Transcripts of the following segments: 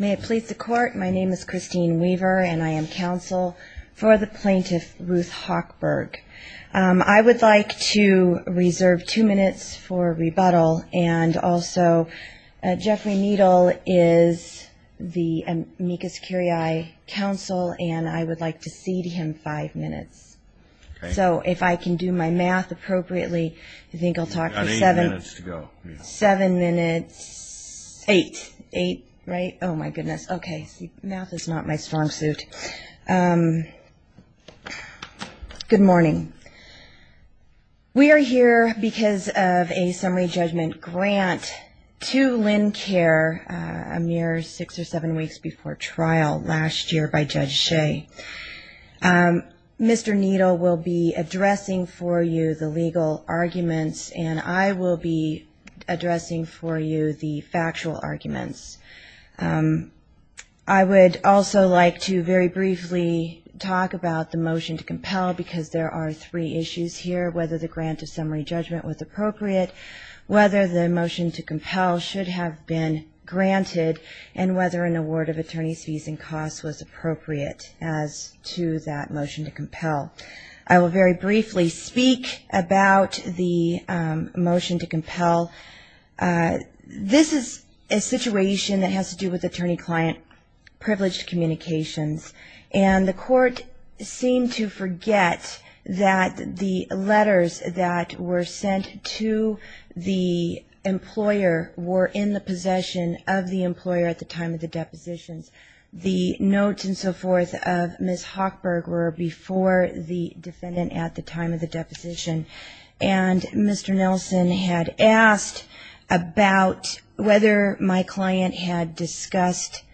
May it please the Court, my name is Christine Weaver and I am counsel for the plaintiff Ruth Hochberg. I would like to reserve two minutes for rebuttal and also Jeffrey Needle is the amicus curiae counsel and I would like to cede him five minutes. So if I can do my right. Oh my goodness, okay, math is not my strong suit. Good morning. We are here because of a summary judgment grant to Lincare a mere six or seven weeks before trial last year by Judge Shea. Mr. Needle will be addressing for you the legal arguments and I will be addressing for you the legal arguments. I would also like to very briefly talk about the motion to compel because there are three issues here, whether the grant of summary judgment was appropriate, whether the motion to compel should have been granted and whether an award of attorney's fees and costs was appropriate as to that motion to compel. I will very briefly speak about the motion to compel. This is a situation that has to do with attorney-client privileged communications and the court seemed to forget that the letters that were sent to the employer were in the possession of the employer at the time of the depositions. The notes and so forth of Ms. Hochberg were before the defendant at the time of the deposition and Mr. Nelson had asked about whether my client had decided to go to trial. He had discussed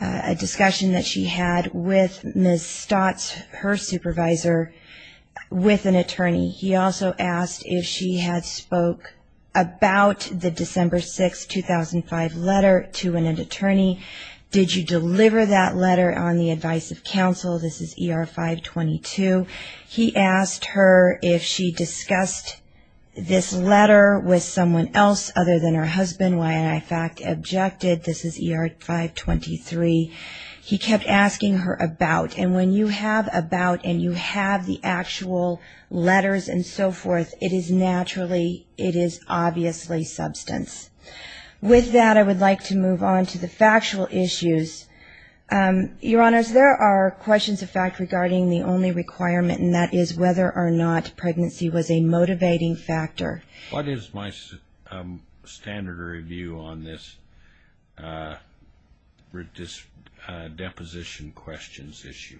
a discussion that she had with Ms. Stotts, her supervisor, with an attorney. He also asked if she had spoke about the December 6, 2005 letter to an attorney. Did you deliver that letter on the advice of counsel? This is ER 522. He asked her if she discussed this letter with someone else other than her husband. YNI fact objected. This is ER 523. He kept asking her about and when you have about and you have the actual letters and so forth, it is naturally, it is obviously substance. With that, I would like to move on to the factual issues. Your Honors, there are questions of fact regarding the only requirement and that is whether or not pregnancy was a motivating factor. What is my standard of review on this deposition questions issue?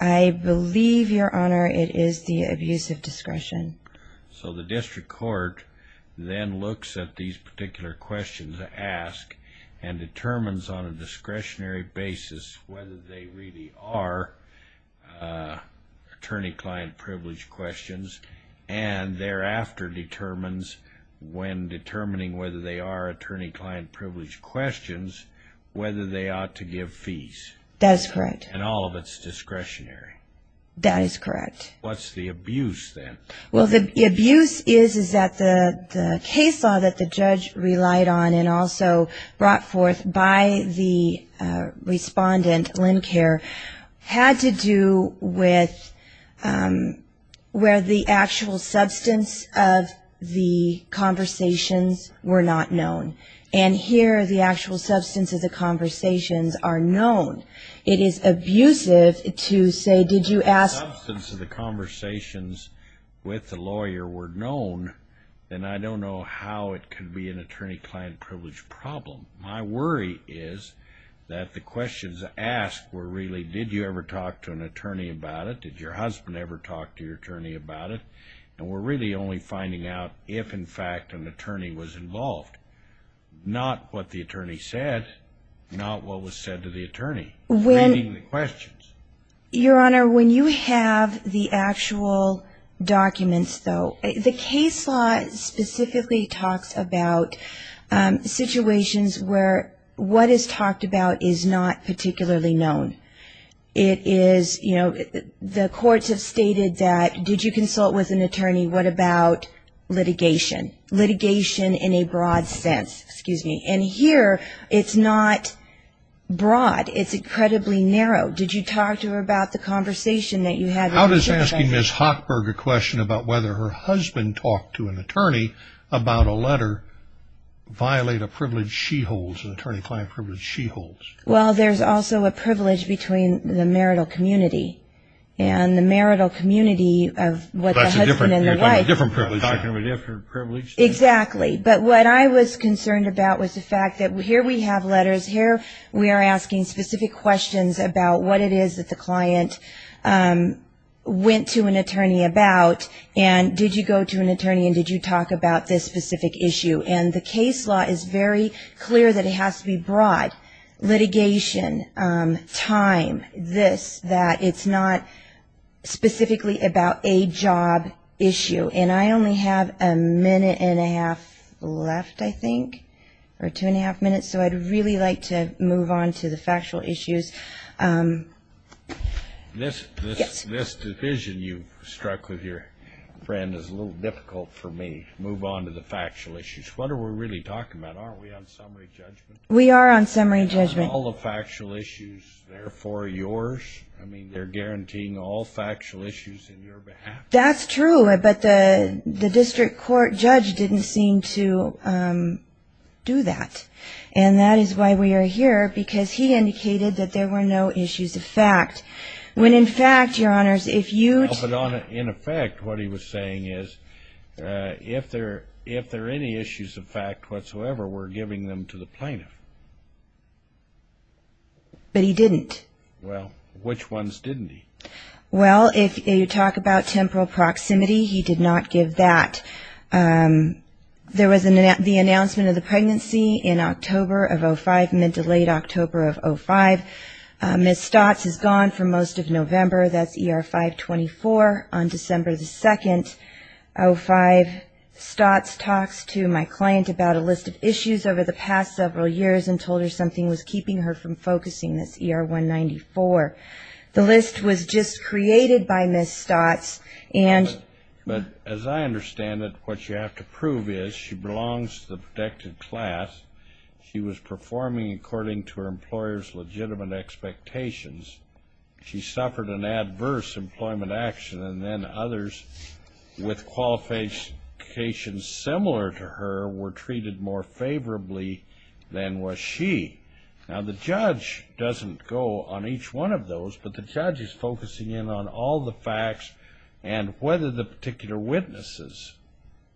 I believe, Your Honor, it is the abuse of discretion. So the district court then looks at these particular questions to ask and determines on a discretionary basis whether they really are attorney-client-privileged questions and thereafter determines when determining whether they are attorney-client-privileged questions whether they ought to give fees. That is correct. And all of it is discretionary. That is correct. What is the abuse then? Well, the abuse is that the case law that the judge relied on and also brought forth by the respondent, Lincare, had to do with where the actual substance of the conversations were not known. And here the actual substance of the conversations are known. It is abusive to say, did you ask? If the substance of the conversations with the lawyer were known, then I don't know how it could be an attorney-client-privileged problem. My worry is that the questions asked were really, did you ever talk to an attorney about it? Did your husband ever talk to your attorney about it? And we're really only finding out if, in fact, an attorney was involved. Not what the attorney said, not what was said to the attorney, reading the questions. Your Honor, when you have the actual documents, though, the case law specifically talks about situations where what is talked about is not particularly known. It is, you know, the courts have stated that did you consult with an attorney, what about litigation? Litigation in a broad sense. Excuse me. And here it's not broad it's incredibly narrow. Did you talk to her about the conversation that you had? How does asking Ms. Hochberg a question about whether her husband talked to an attorney about a letter violate a privilege she holds, an attorney-client privilege she holds? Well, there's also a privilege between the marital community. And the marital community of what the husband and the wife... That's a different privilege. You're talking of a different privilege. Exactly. But what I was concerned about was the fact that here we have letters, here we are asking specific questions about what it is that the client went to an attorney about and did you go to an attorney and did you talk about this specific issue. And the case law is very clear that it has to be broad. Litigation, time, this, that. It's not specifically about a job issue. And I only have a minute and a half left, I think, or two and a half minutes, so I'd really like to move on to the factual issues. This decision you struck with your friend is a little difficult for me to move on to the factual issues. What are we really talking about? Aren't we on summary judgment? We are on summary judgment. Aren't all the factual issues therefore yours? I mean, they're guaranteeing all factual issues on your behalf? That's true, but the district court judge didn't seem to do that. And that is why we are here, because he indicated that there were no issues of fact. When in fact, Your Honors, if you... But in effect, what he was saying is, if there are any issues of fact whatsoever, we're giving them to the plaintiff. But he didn't. Well, which ones didn't he? Well, if you talk about temporal proximity, he did not give that. There was the announcement of the pregnancy in October of 2005, mid to late October of 2005. Ms. Stotts is gone for most of November. That's ER 524. On December 2nd, 2005, Stotts talks to my client about a list of issues over the past several years and told her something was keeping her from getting pregnant. But as I understand it, what you have to prove is, she belongs to the protected class. She was performing according to her employer's legitimate expectations. She suffered an adverse employment action, and then others with qualifications similar to her were treated more favorably than was she. Now, the judge doesn't go on each one of those, but the judge is focusing in on all the facts and whether the particular witnesses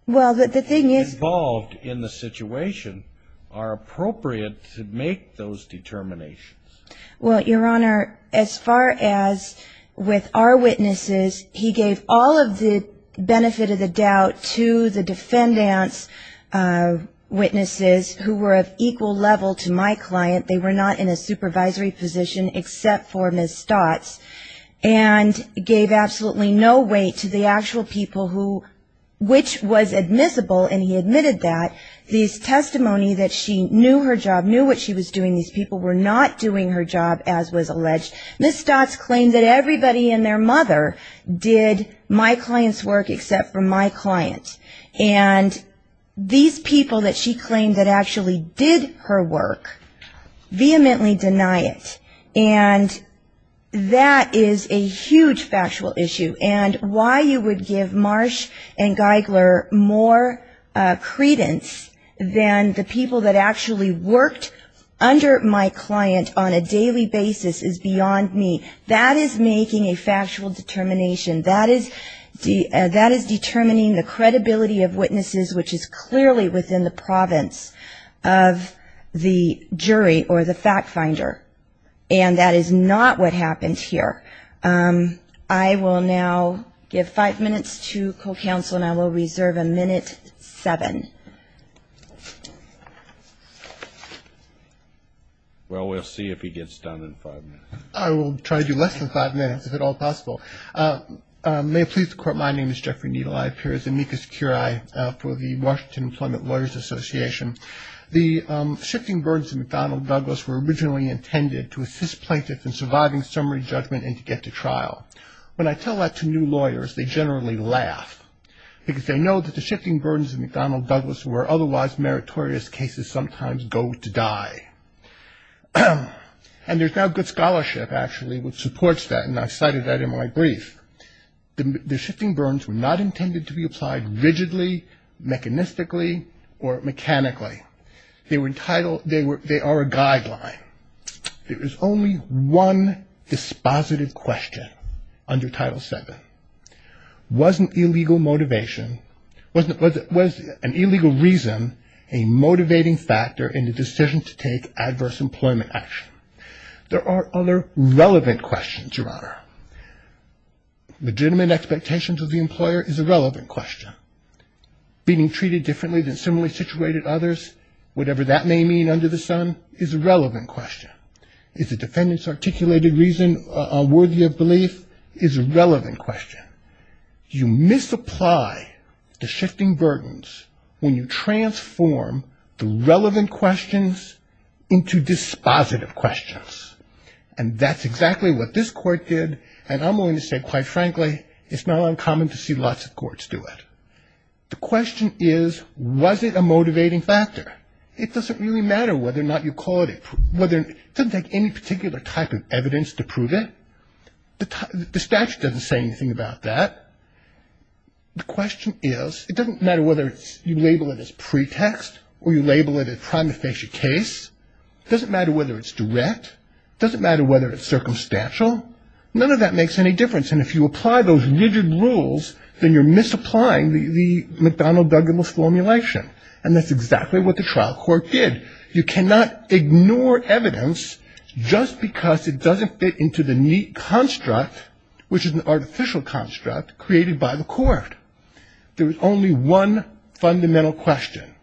involved in the situation are appropriate to make those determinations. Well, Your Honor, as far as with our witnesses, he gave all of the benefit of the doubt to the defendants' witnesses who were of equal level to my client. They were not in a supervisory position except for Ms. Stotts, and gave absolutely no weight to the actual people who, which was admissible, and he admitted that. The testimony that she knew her job, knew what she was doing, these people were not doing her job, as was alleged. Ms. Stotts claimed that everybody and their mother did my client's work except for my client. And these people that she claimed that actually did her work vehemently deny it. And that is a huge factual issue. And why you would give Marsh and Geigler more credence than the people that actually worked under my client on a daily basis is beyond me. That is making a factual determination. That is determining the credibility of witnesses, which is clearly within the province of the jury or the fact finder. And that is not what happened here. I will now give five minutes to co-counsel, and I will reserve a minute seven. Well, we'll see if he gets done in five minutes. I will try to do less than five minutes, if at all possible. May it please the Court, my name is Jeffrey Needle. I appear as amicus curiae for the Washington Employment Lawyers Association. The shifting burdens of McDonnell Douglas were originally intended to assist plaintiffs in surviving summary judgment and to get to trial. When I tell that to new lawyers, they generally laugh, because they know that the shifting burdens of McDonnell Douglas were otherwise meritorious cases sometimes go to die. And there's now good scholarship actually which supports that, and I cited that in my brief. The shifting burdens were not intended to be applied rigidly, mechanistically, or mechanically. They are a guideline. There is only one dispositive question under Title VII. Was an illegal motivation, was an illegal reason, a motivating factor in the decision to take adverse employment action? There are other relevant questions, Your Honor. Legitimate expectations of the employer is a relevant question. Being treated differently than similarly situated others, whatever that may mean under the sun, is a relevant question. Is the defendant's articulated reason worthy of belief is a relevant question. You misapply the shifting burdens when you transform the relevant questions into dispositive questions. And that's exactly what this Court did, and I'm willing to say quite frankly, it's not uncommon to see lots of courts do it. The question is, was it a motivating factor? It doesn't really matter whether or not you called it. It doesn't take any particular type of evidence to prove it. The statute doesn't say anything about that. The question is, it doesn't matter whether you label it as pretext or you label it a prima facie case. It doesn't matter whether it's direct. It doesn't matter whether it's circumstantial. None of that makes any difference, and if you apply those rigid rules, then you're misapplying the McDonnell-Douglas formulation, and that's exactly what the trial court did. You cannot ignore evidence just because it doesn't fit into the neat construct, which is an artificial construct created by the court. There was only one fundamental question,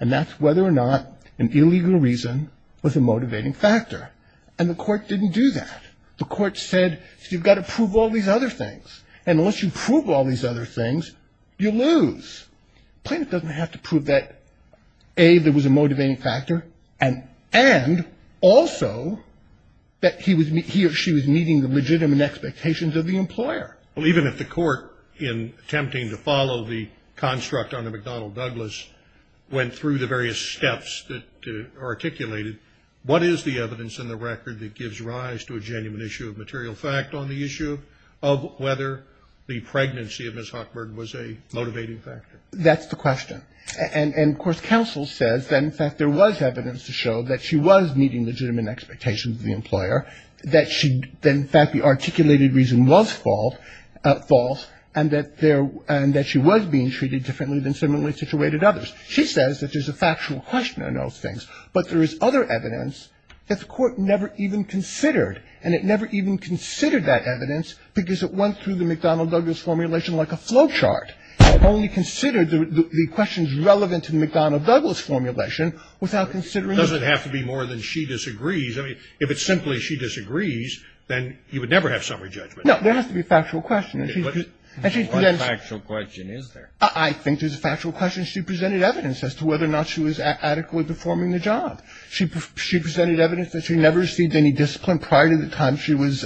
and that's whether or not an illegal reason was a motivating factor, and the court didn't do that. The court said, you've got to prove all these other things, and unless you prove all these other things, you lose. Plaintiff doesn't have to prove that A, there was a motivating factor, and also that he or she was meeting the legitimate expectations of the employer. Well, even if the court, in attempting to follow the construct on the McDonnell-Douglas, went through the various steps that are articulated, what is the evidence in the record that gives rise to a genuine issue of material fact on the issue of whether the pregnancy of Ms. Hochberg was a motivating factor? That's the question. And, of course, counsel says that, in fact, there was evidence to show that she was meeting legitimate expectations of the employer, that she – that, in fact, the articulated reason was false, and that there – and that she was being treated differently than similarly situated others. She says that there's a factual question on those things, but there is other evidence that the court never even considered, and it never even considered that evidence because it went through the McDonnell-Douglas formulation like a flowchart. It only considered the questions relevant to the McDonnell-Douglas formulation without considering – It doesn't have to be more than she disagrees. I mean, if it's simply she disagrees, then you would never have summary judgment. No. There has to be a factual question. And she – What factual question is there? I think there's a factual question. She presented evidence as to whether or not she was adequately performing the job. She presented evidence that she never received any discipline prior to the time she was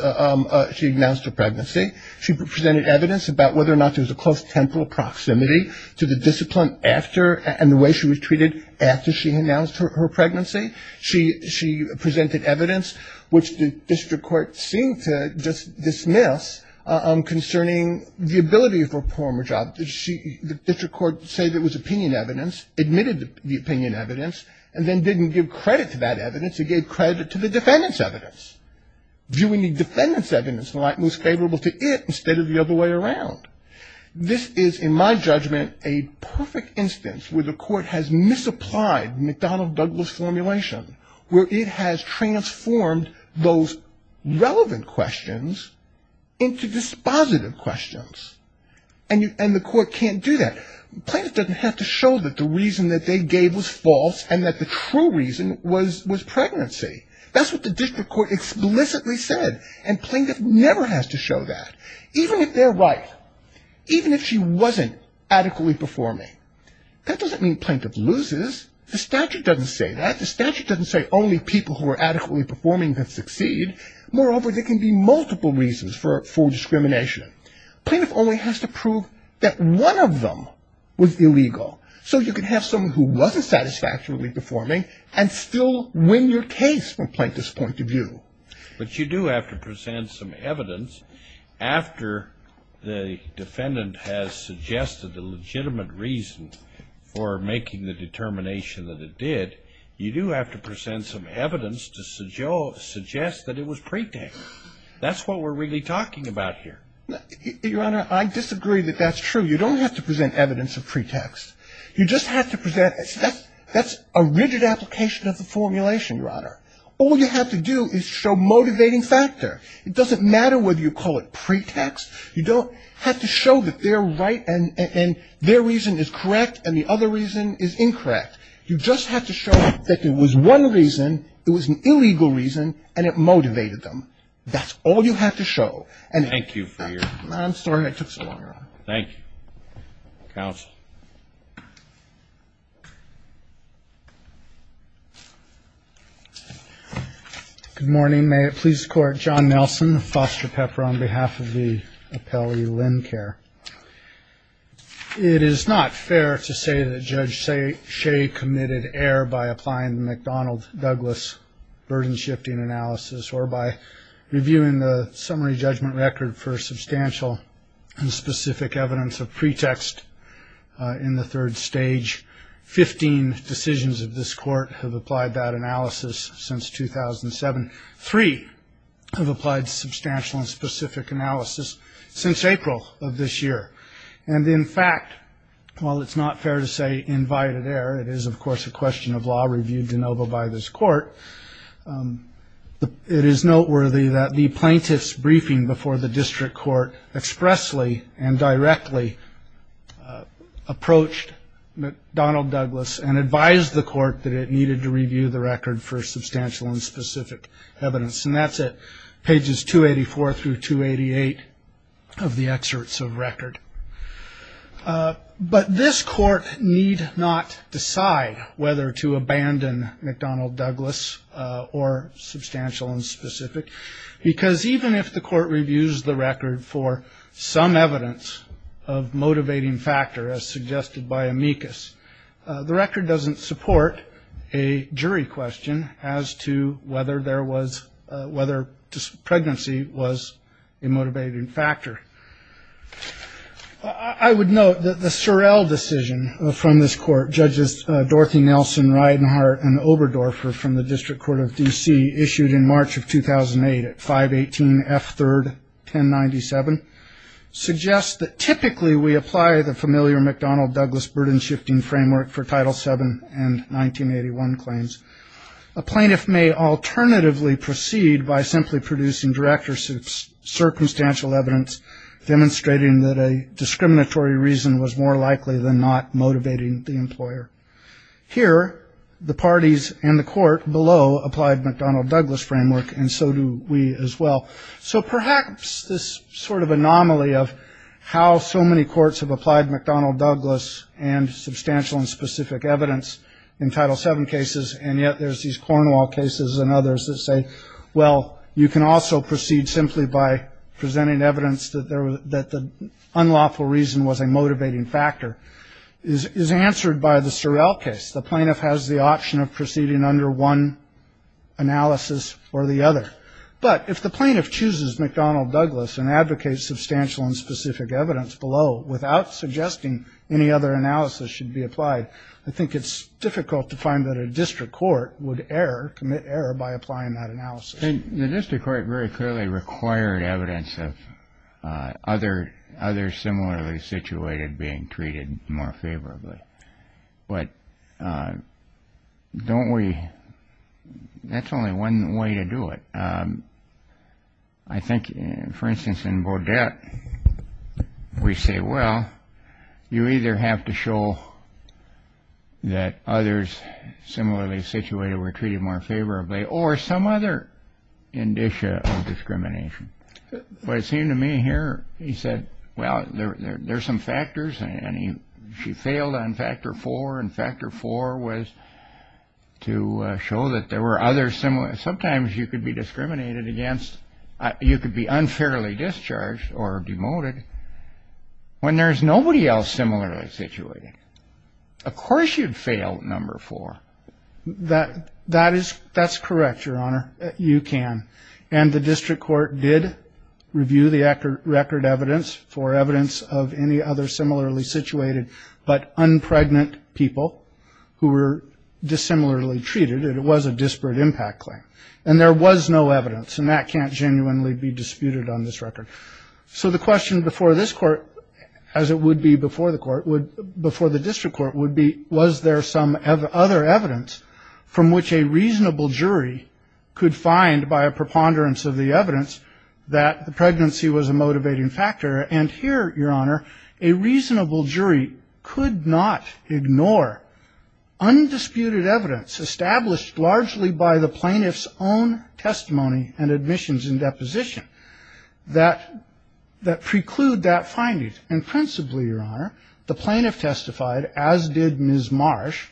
– she announced her pregnancy. She presented evidence about whether or not there was a close temporal proximity to the discipline after – and the way she was treated after she announced her pregnancy. She presented evidence, which the district court seemed to dismiss, concerning the ability of her performance. The district court said it was opinion evidence, admitted the opinion evidence, and then didn't give credit to that evidence. It gave credit to the defendant's evidence. Viewing the defendant's evidence in the light most favorable to it instead of the other way around. This is, in my judgment, a perfect instance where the court has misapplied the McDonnell-Douglas formulation, where it has transformed those relevant questions into dispositive questions. And the court can't do that. Plaintiff doesn't have to show that the reason that they gave was false and that the true reason was pregnancy. That's what the district court explicitly said. And plaintiff never has to show that. Even if they're right. Even if she wasn't adequately performing. That doesn't mean plaintiff loses. The statute doesn't say that. The statute doesn't say only people who are adequately performing can succeed. Moreover, there can be multiple reasons for discrimination. Plaintiff only has to prove that one of them was illegal. So you can have someone who wasn't satisfactorily performing and still win your case from plaintiff's point of view. But you do have to present some evidence after the defendant has suggested a legitimate reason for making the determination that it did. You do have to present some evidence to suggest that it was pre-temp. That's what we're really talking about here. Your Honor, I disagree that that's true. You don't have to present evidence of pre-temp. You just have to present. That's a rigid application of the formulation, Your Honor. All you have to do is show motivating factor. It doesn't matter whether you call it pre-temp. You don't have to show that they're right and their reason is correct and the other reason is incorrect. You just have to show that it was one reason, it was an illegal reason and it motivated them. That's all you have to show. Thank you for your time. I'm sorry it took so long, Your Honor. Thank you. Counsel. Good morning. May it please the Court, John Nelson, Foster Pepper on behalf of the appellee Lynn Kerr. It is not fair to say that Judge Shea committed error by applying the McDonald-Douglas burden-shifting analysis or by reviewing the summary judgment record for substantial and specific evidence of pretext in the third stage. Fifteen decisions of this Court have applied that analysis since 2007. Three have applied substantial and specific analysis since April of this year. And in fact, while it's not fair to say invited error, it is of course a question of law reviewed de novo by this Court. It is noteworthy that the plaintiff's briefing before the district court expressly and directly approached McDonald-Douglas and advised the Court that it needed to review the record for substantial and specific evidence and that's at pages 284 through 288 of the excerpts of record. But this Court need not decide whether to abandon McDonald-Douglas or substantial and specific because even if the Court reviews the record for some evidence of motivating factor as suggested by amicus, the record doesn't support a jury question as to whether there was, whether pregnancy was a motivating factor. I would note that the Sorrell decision from this Court, Judges Dorothy Nelson, Reidenhart and Oberdorfer from the District Court of D.C. issued in March of 2008 at 518 F. 3d 1097, suggests that typically we apply the familiar McDonald-Douglas burden-shifting framework for Title VII and 1981 claims. A plaintiff may alternatively proceed by simply producing direct or circumstantial evidence demonstrating that a discriminatory reason was more likely than not motivating the employer. Here, the parties and the Court below applied McDonald-Douglas framework and so do we as well. So perhaps this sort of anomaly of how so many courts have applied McDonald-Douglas and substantial and specific evidence in Title VII cases and yet there's these Cornwall cases and others that say, well, you can also proceed simply by presenting evidence that the unlawful reason was a motivating factor is answered by the Sorrell case. The plaintiff has the option of proceeding under one analysis or the other. But if the plaintiff chooses McDonald-Douglas and advocates substantial and specific evidence, below, without suggesting any other analysis should be applied, I think it's difficult to find that a district court would err, commit error, by applying that analysis. The district court very clearly required evidence of others similarly situated being treated more favorably. But don't we, that's only one way to do it. I think, for instance, in this case, we say, well, you either have to show that others similarly situated were treated more favorably or some other indicia of discrimination. But it seemed to me here, he said, well, there's some factors and he failed on factor four and factor four was to show that there were others similar. Sometimes you could be discriminated or demoted when there's nobody else similarly situated. Of course you'd fail number four. That is, that's correct, Your Honor. You can. And the district court did review the record evidence for evidence of any other similarly situated but un-pregnant people who were dissimilarly treated and it was a disparate impact claim. And there was no evidence and that can't genuinely be disputed on this record. So the question before this court, as it would be before the court, before the district court would be, was there some other evidence from which a reasonable jury could find by a preponderance of the evidence that the pregnancy was a motivating factor? And here, Your Honor, a reasonable jury could not ignore undisputed evidence established largely by the plaintiff's own testimony and admissions and deposition that preclude that finding. And principally, Your Honor, the plaintiff testified, as did Ms. Marsh,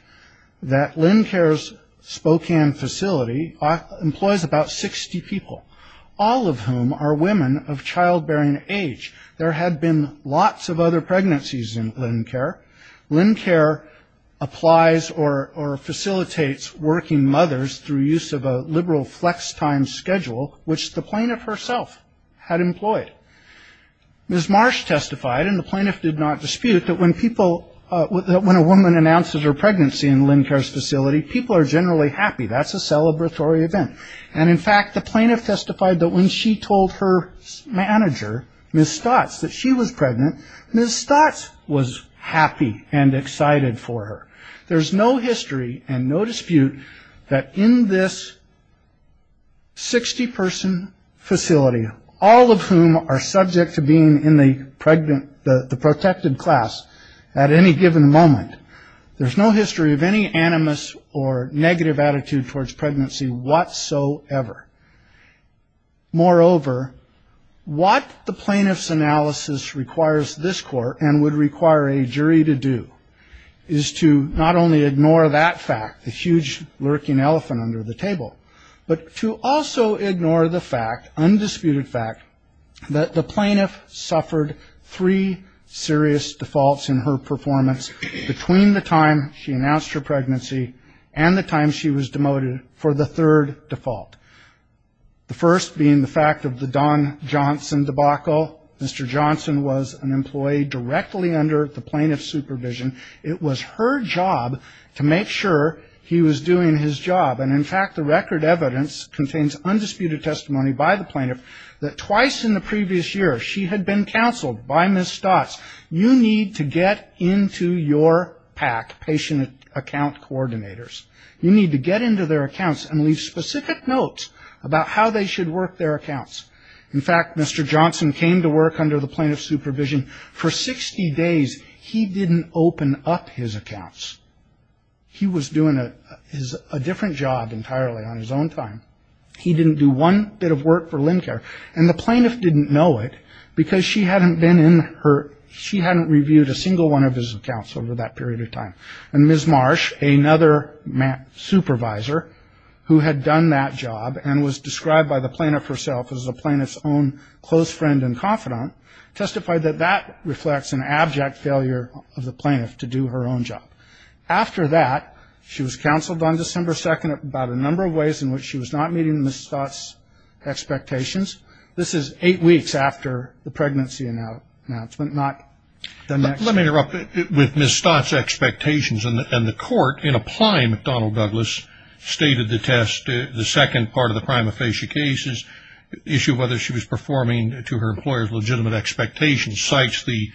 that LendCare's Spokane facility employs about 60 people, all of whom are women of childbearing age. There had been lots of other pregnancies in LendCare. LendCare applies or facilitates working mothers through use of a liberal flex time schedule, which the plaintiff herself had employed. Ms. Marsh testified and the plaintiff did not dispute that when people, when a woman announces her pregnancy in LendCare's facility, people are generally happy. That's a celebratory event. And in fact, the plaintiff testified that when she told her manager, Ms. Stotts, that she was pregnant, Ms. Stotts was happy and excited for her. There's no history and no evidence, 60-person facility, all of whom are subject to being in the pregnant, the protected class at any given moment, there's no history of any animus or negative attitude towards pregnancy whatsoever. Moreover, what the plaintiff's analysis requires this Court and would require a jury to do is to not only ignore that fact, the huge lurking elephant under the table, but to also ignore the fact, undisputed fact, that the plaintiff suffered three serious defaults in her performance between the time she announced her pregnancy and the time she was demoted for the third default. The first being the fact of the Don Johnson debacle. Mr. Johnson was an employee directly under the plaintiff's supervision. It was her job to make sure he was doing his job. And in fact, the record evidence contains undisputed testimony by the plaintiff that twice in the previous year she had been counseled by Ms. Stotts. You need to get into your PAC, patient account coordinators. You need to get into their accounts and leave specific notes about how they should work their accounts. In fact, Mr. Johnson came to work under the plaintiff's supervision for 60 days. He didn't open up his accounts. He was doing a different job entirely on his own time. He didn't do one bit of work for LendCare. And the plaintiff didn't know it because she hadn't reviewed a single one of his accounts over that period of time. And Ms. Marsh, another supervisor who had done that job and was described by the plaintiff herself as the plaintiff's own close friend and confidant, testified that that reflects an abject failure of the plaintiff to do her own job. After that, she was counseled on December 2nd about a number of ways in which she was not meeting Ms. Stotts' expectations. This is eight weeks after the pregnancy announcement, not the next. Let me interrupt. With Ms. Stotts' expectations and the court in applying McDonnell-Douglas stated the test, the second part of the prima facie case, the issue of whether she was performing to her employer's legitimate expectations, cites the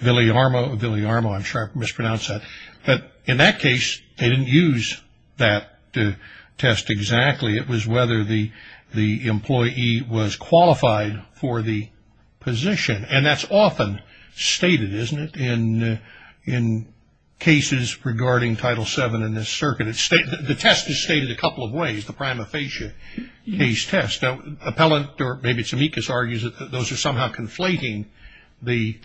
Villiarmo, I'm sure I've mispronounced that. But in that case, they didn't use that test exactly. It was whether the employee was qualified for the position. And that's often stated, isn't it, in cases regarding Title VII in this circuit? The test is stated a couple of ways, the prima facie case test. Now, Appellant, or maybe it's Amicus, argues that those are somehow conflating the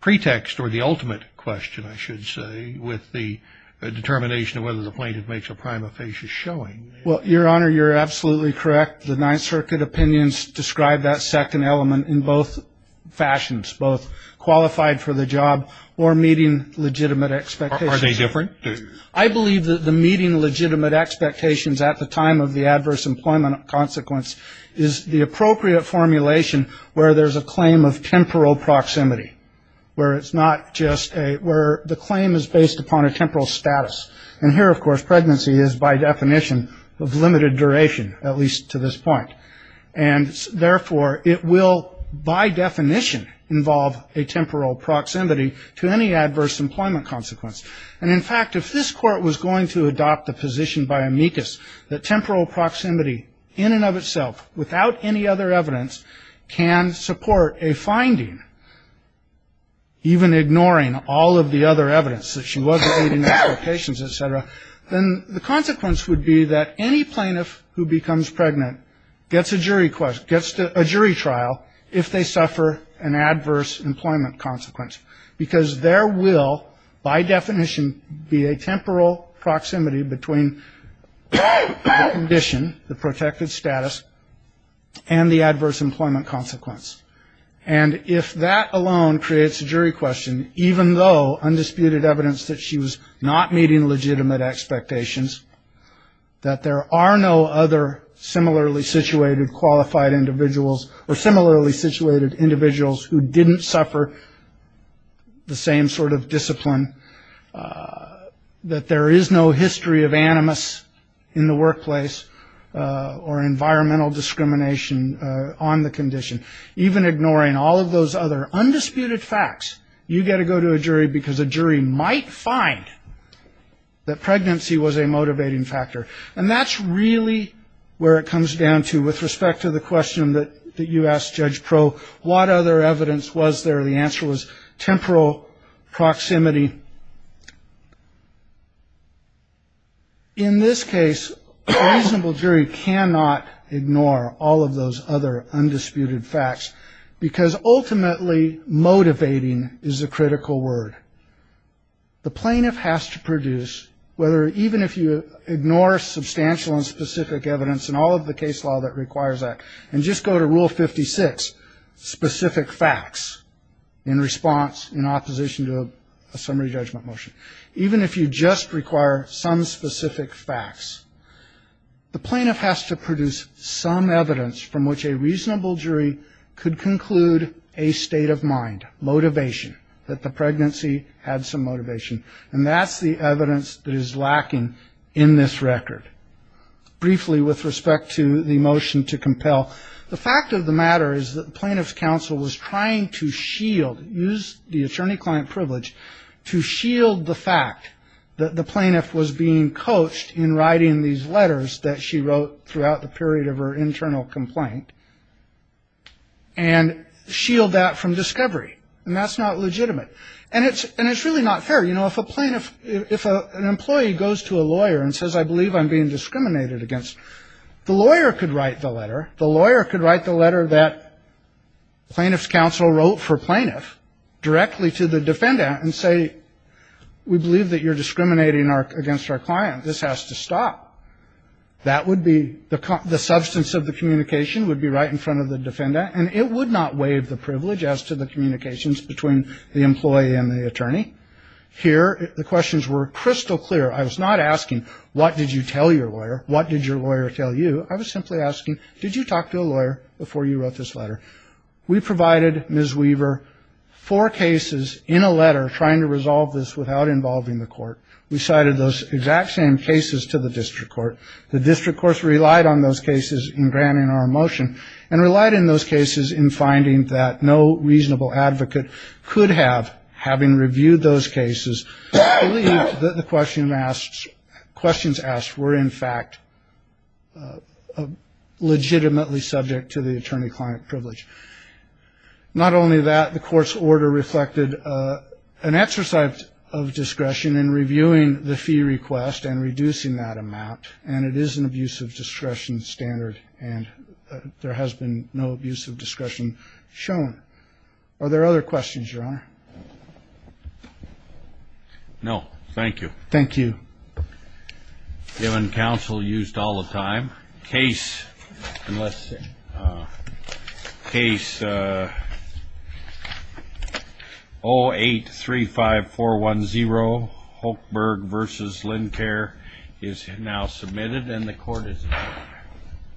pretext or the ultimate question, I should say, with the determination of whether the plaintiff makes a prima facie showing. Well, Your Honor, you're absolutely correct. The Ninth Circuit opinions describe that second part of the case. Are they different? I believe that the meeting legitimate expectations at the time of the adverse employment consequence is the appropriate formulation where there's a claim of temporal proximity, where it's not just a, where the claim is based upon a temporal status. And here, of course, pregnancy is by definition of limited duration, at least to this point. And therefore, it will by definition involve a temporal proximity to any adverse employment consequence. And in fact, if this Court was going to adopt a position by Amicus that temporal proximity in and of itself, without any other evidence, can support a finding, even ignoring all of the other evidence, such as legitimate expectations, et cetera, then the consequence would be that any plaintiff who becomes pregnant gets a jury trial if they suffer an adverse employment consequence. Because there will, by definition, be a temporal proximity between the condition, the protected status, and the adverse employment consequence. And if that alone creates a jury question, even though undisputed evidence that she was not meeting legitimate expectations, that there are no other similarly situated qualified individuals or similarly situated individuals who didn't suffer the same sort of discipline, that there is no history of animus in the workplace or environmental discrimination on the condition, even ignoring all of those other undisputed facts, you've got to go to that pregnancy was a motivating factor. And that's really where it comes down to, with respect to the question that you asked Judge Pro, what other evidence was there? The answer was temporal proximity. In this case, a reasonable jury cannot ignore all of those other undisputed facts, because ultimately motivating is a critical word. The plaintiff has to produce, even if you ignore substantial and specific evidence and all of the case law that requires that, and just go to Rule 56, specific facts in response, in opposition to a summary judgment motion, even if you just require some specific facts, the plaintiff has to produce some evidence from which a reasonable jury could conclude a state of mind, motivation, that the pregnancy had some motivation. And that's the evidence that is lacking in this record. Briefly with respect to the motion to compel, the fact of the matter is that the plaintiff's counsel was trying to shield, use the attorney-client privilege to shield the fact that the plaintiff was being coached in writing these letters that she wrote throughout the period of her internal complaint, and shield that from discovery. And that's not legitimate. And it's really not fair. You know, if a plaintiff, if an employee goes to a lawyer and says, I believe I'm being discriminated against, the lawyer could write the letter, the lawyer could write the letter that plaintiff's counsel wrote for plaintiff directly to the defendant and say, we believe that you're discriminating against our client. This has to stop. That would be, the substance of the communication would be right in front of the defendant, and it would not waive the privilege as to the communications between the employee and the attorney. Here the questions were crystal clear. I was not asking, what did you tell your lawyer? What did your lawyer tell you? I was simply asking, did you talk to a lawyer before you wrote this letter? We provided Ms. Weaver four cases in a letter trying to resolve this without involving the court. We cited those exact same cases to the district court. The district court relied on those cases in granting our motion, and relied on those cases in finding that no reasonable advocate could have, having reviewed those cases. I believe that the questions asked were, in fact, legitimately subject to the attorney-client privilege. Not only that, the court's order reflected an exercise of discretion in reviewing the fee request and reducing that amount, and it is an abuse of discretion standard, and there has been no abuse of discretion shown. Are there other questions, Your Honor? No, thank you. Thank you. Given counsel used all the time, case 0835410, Hochberg v. Lincare, is now submitted, and the court is adjourned.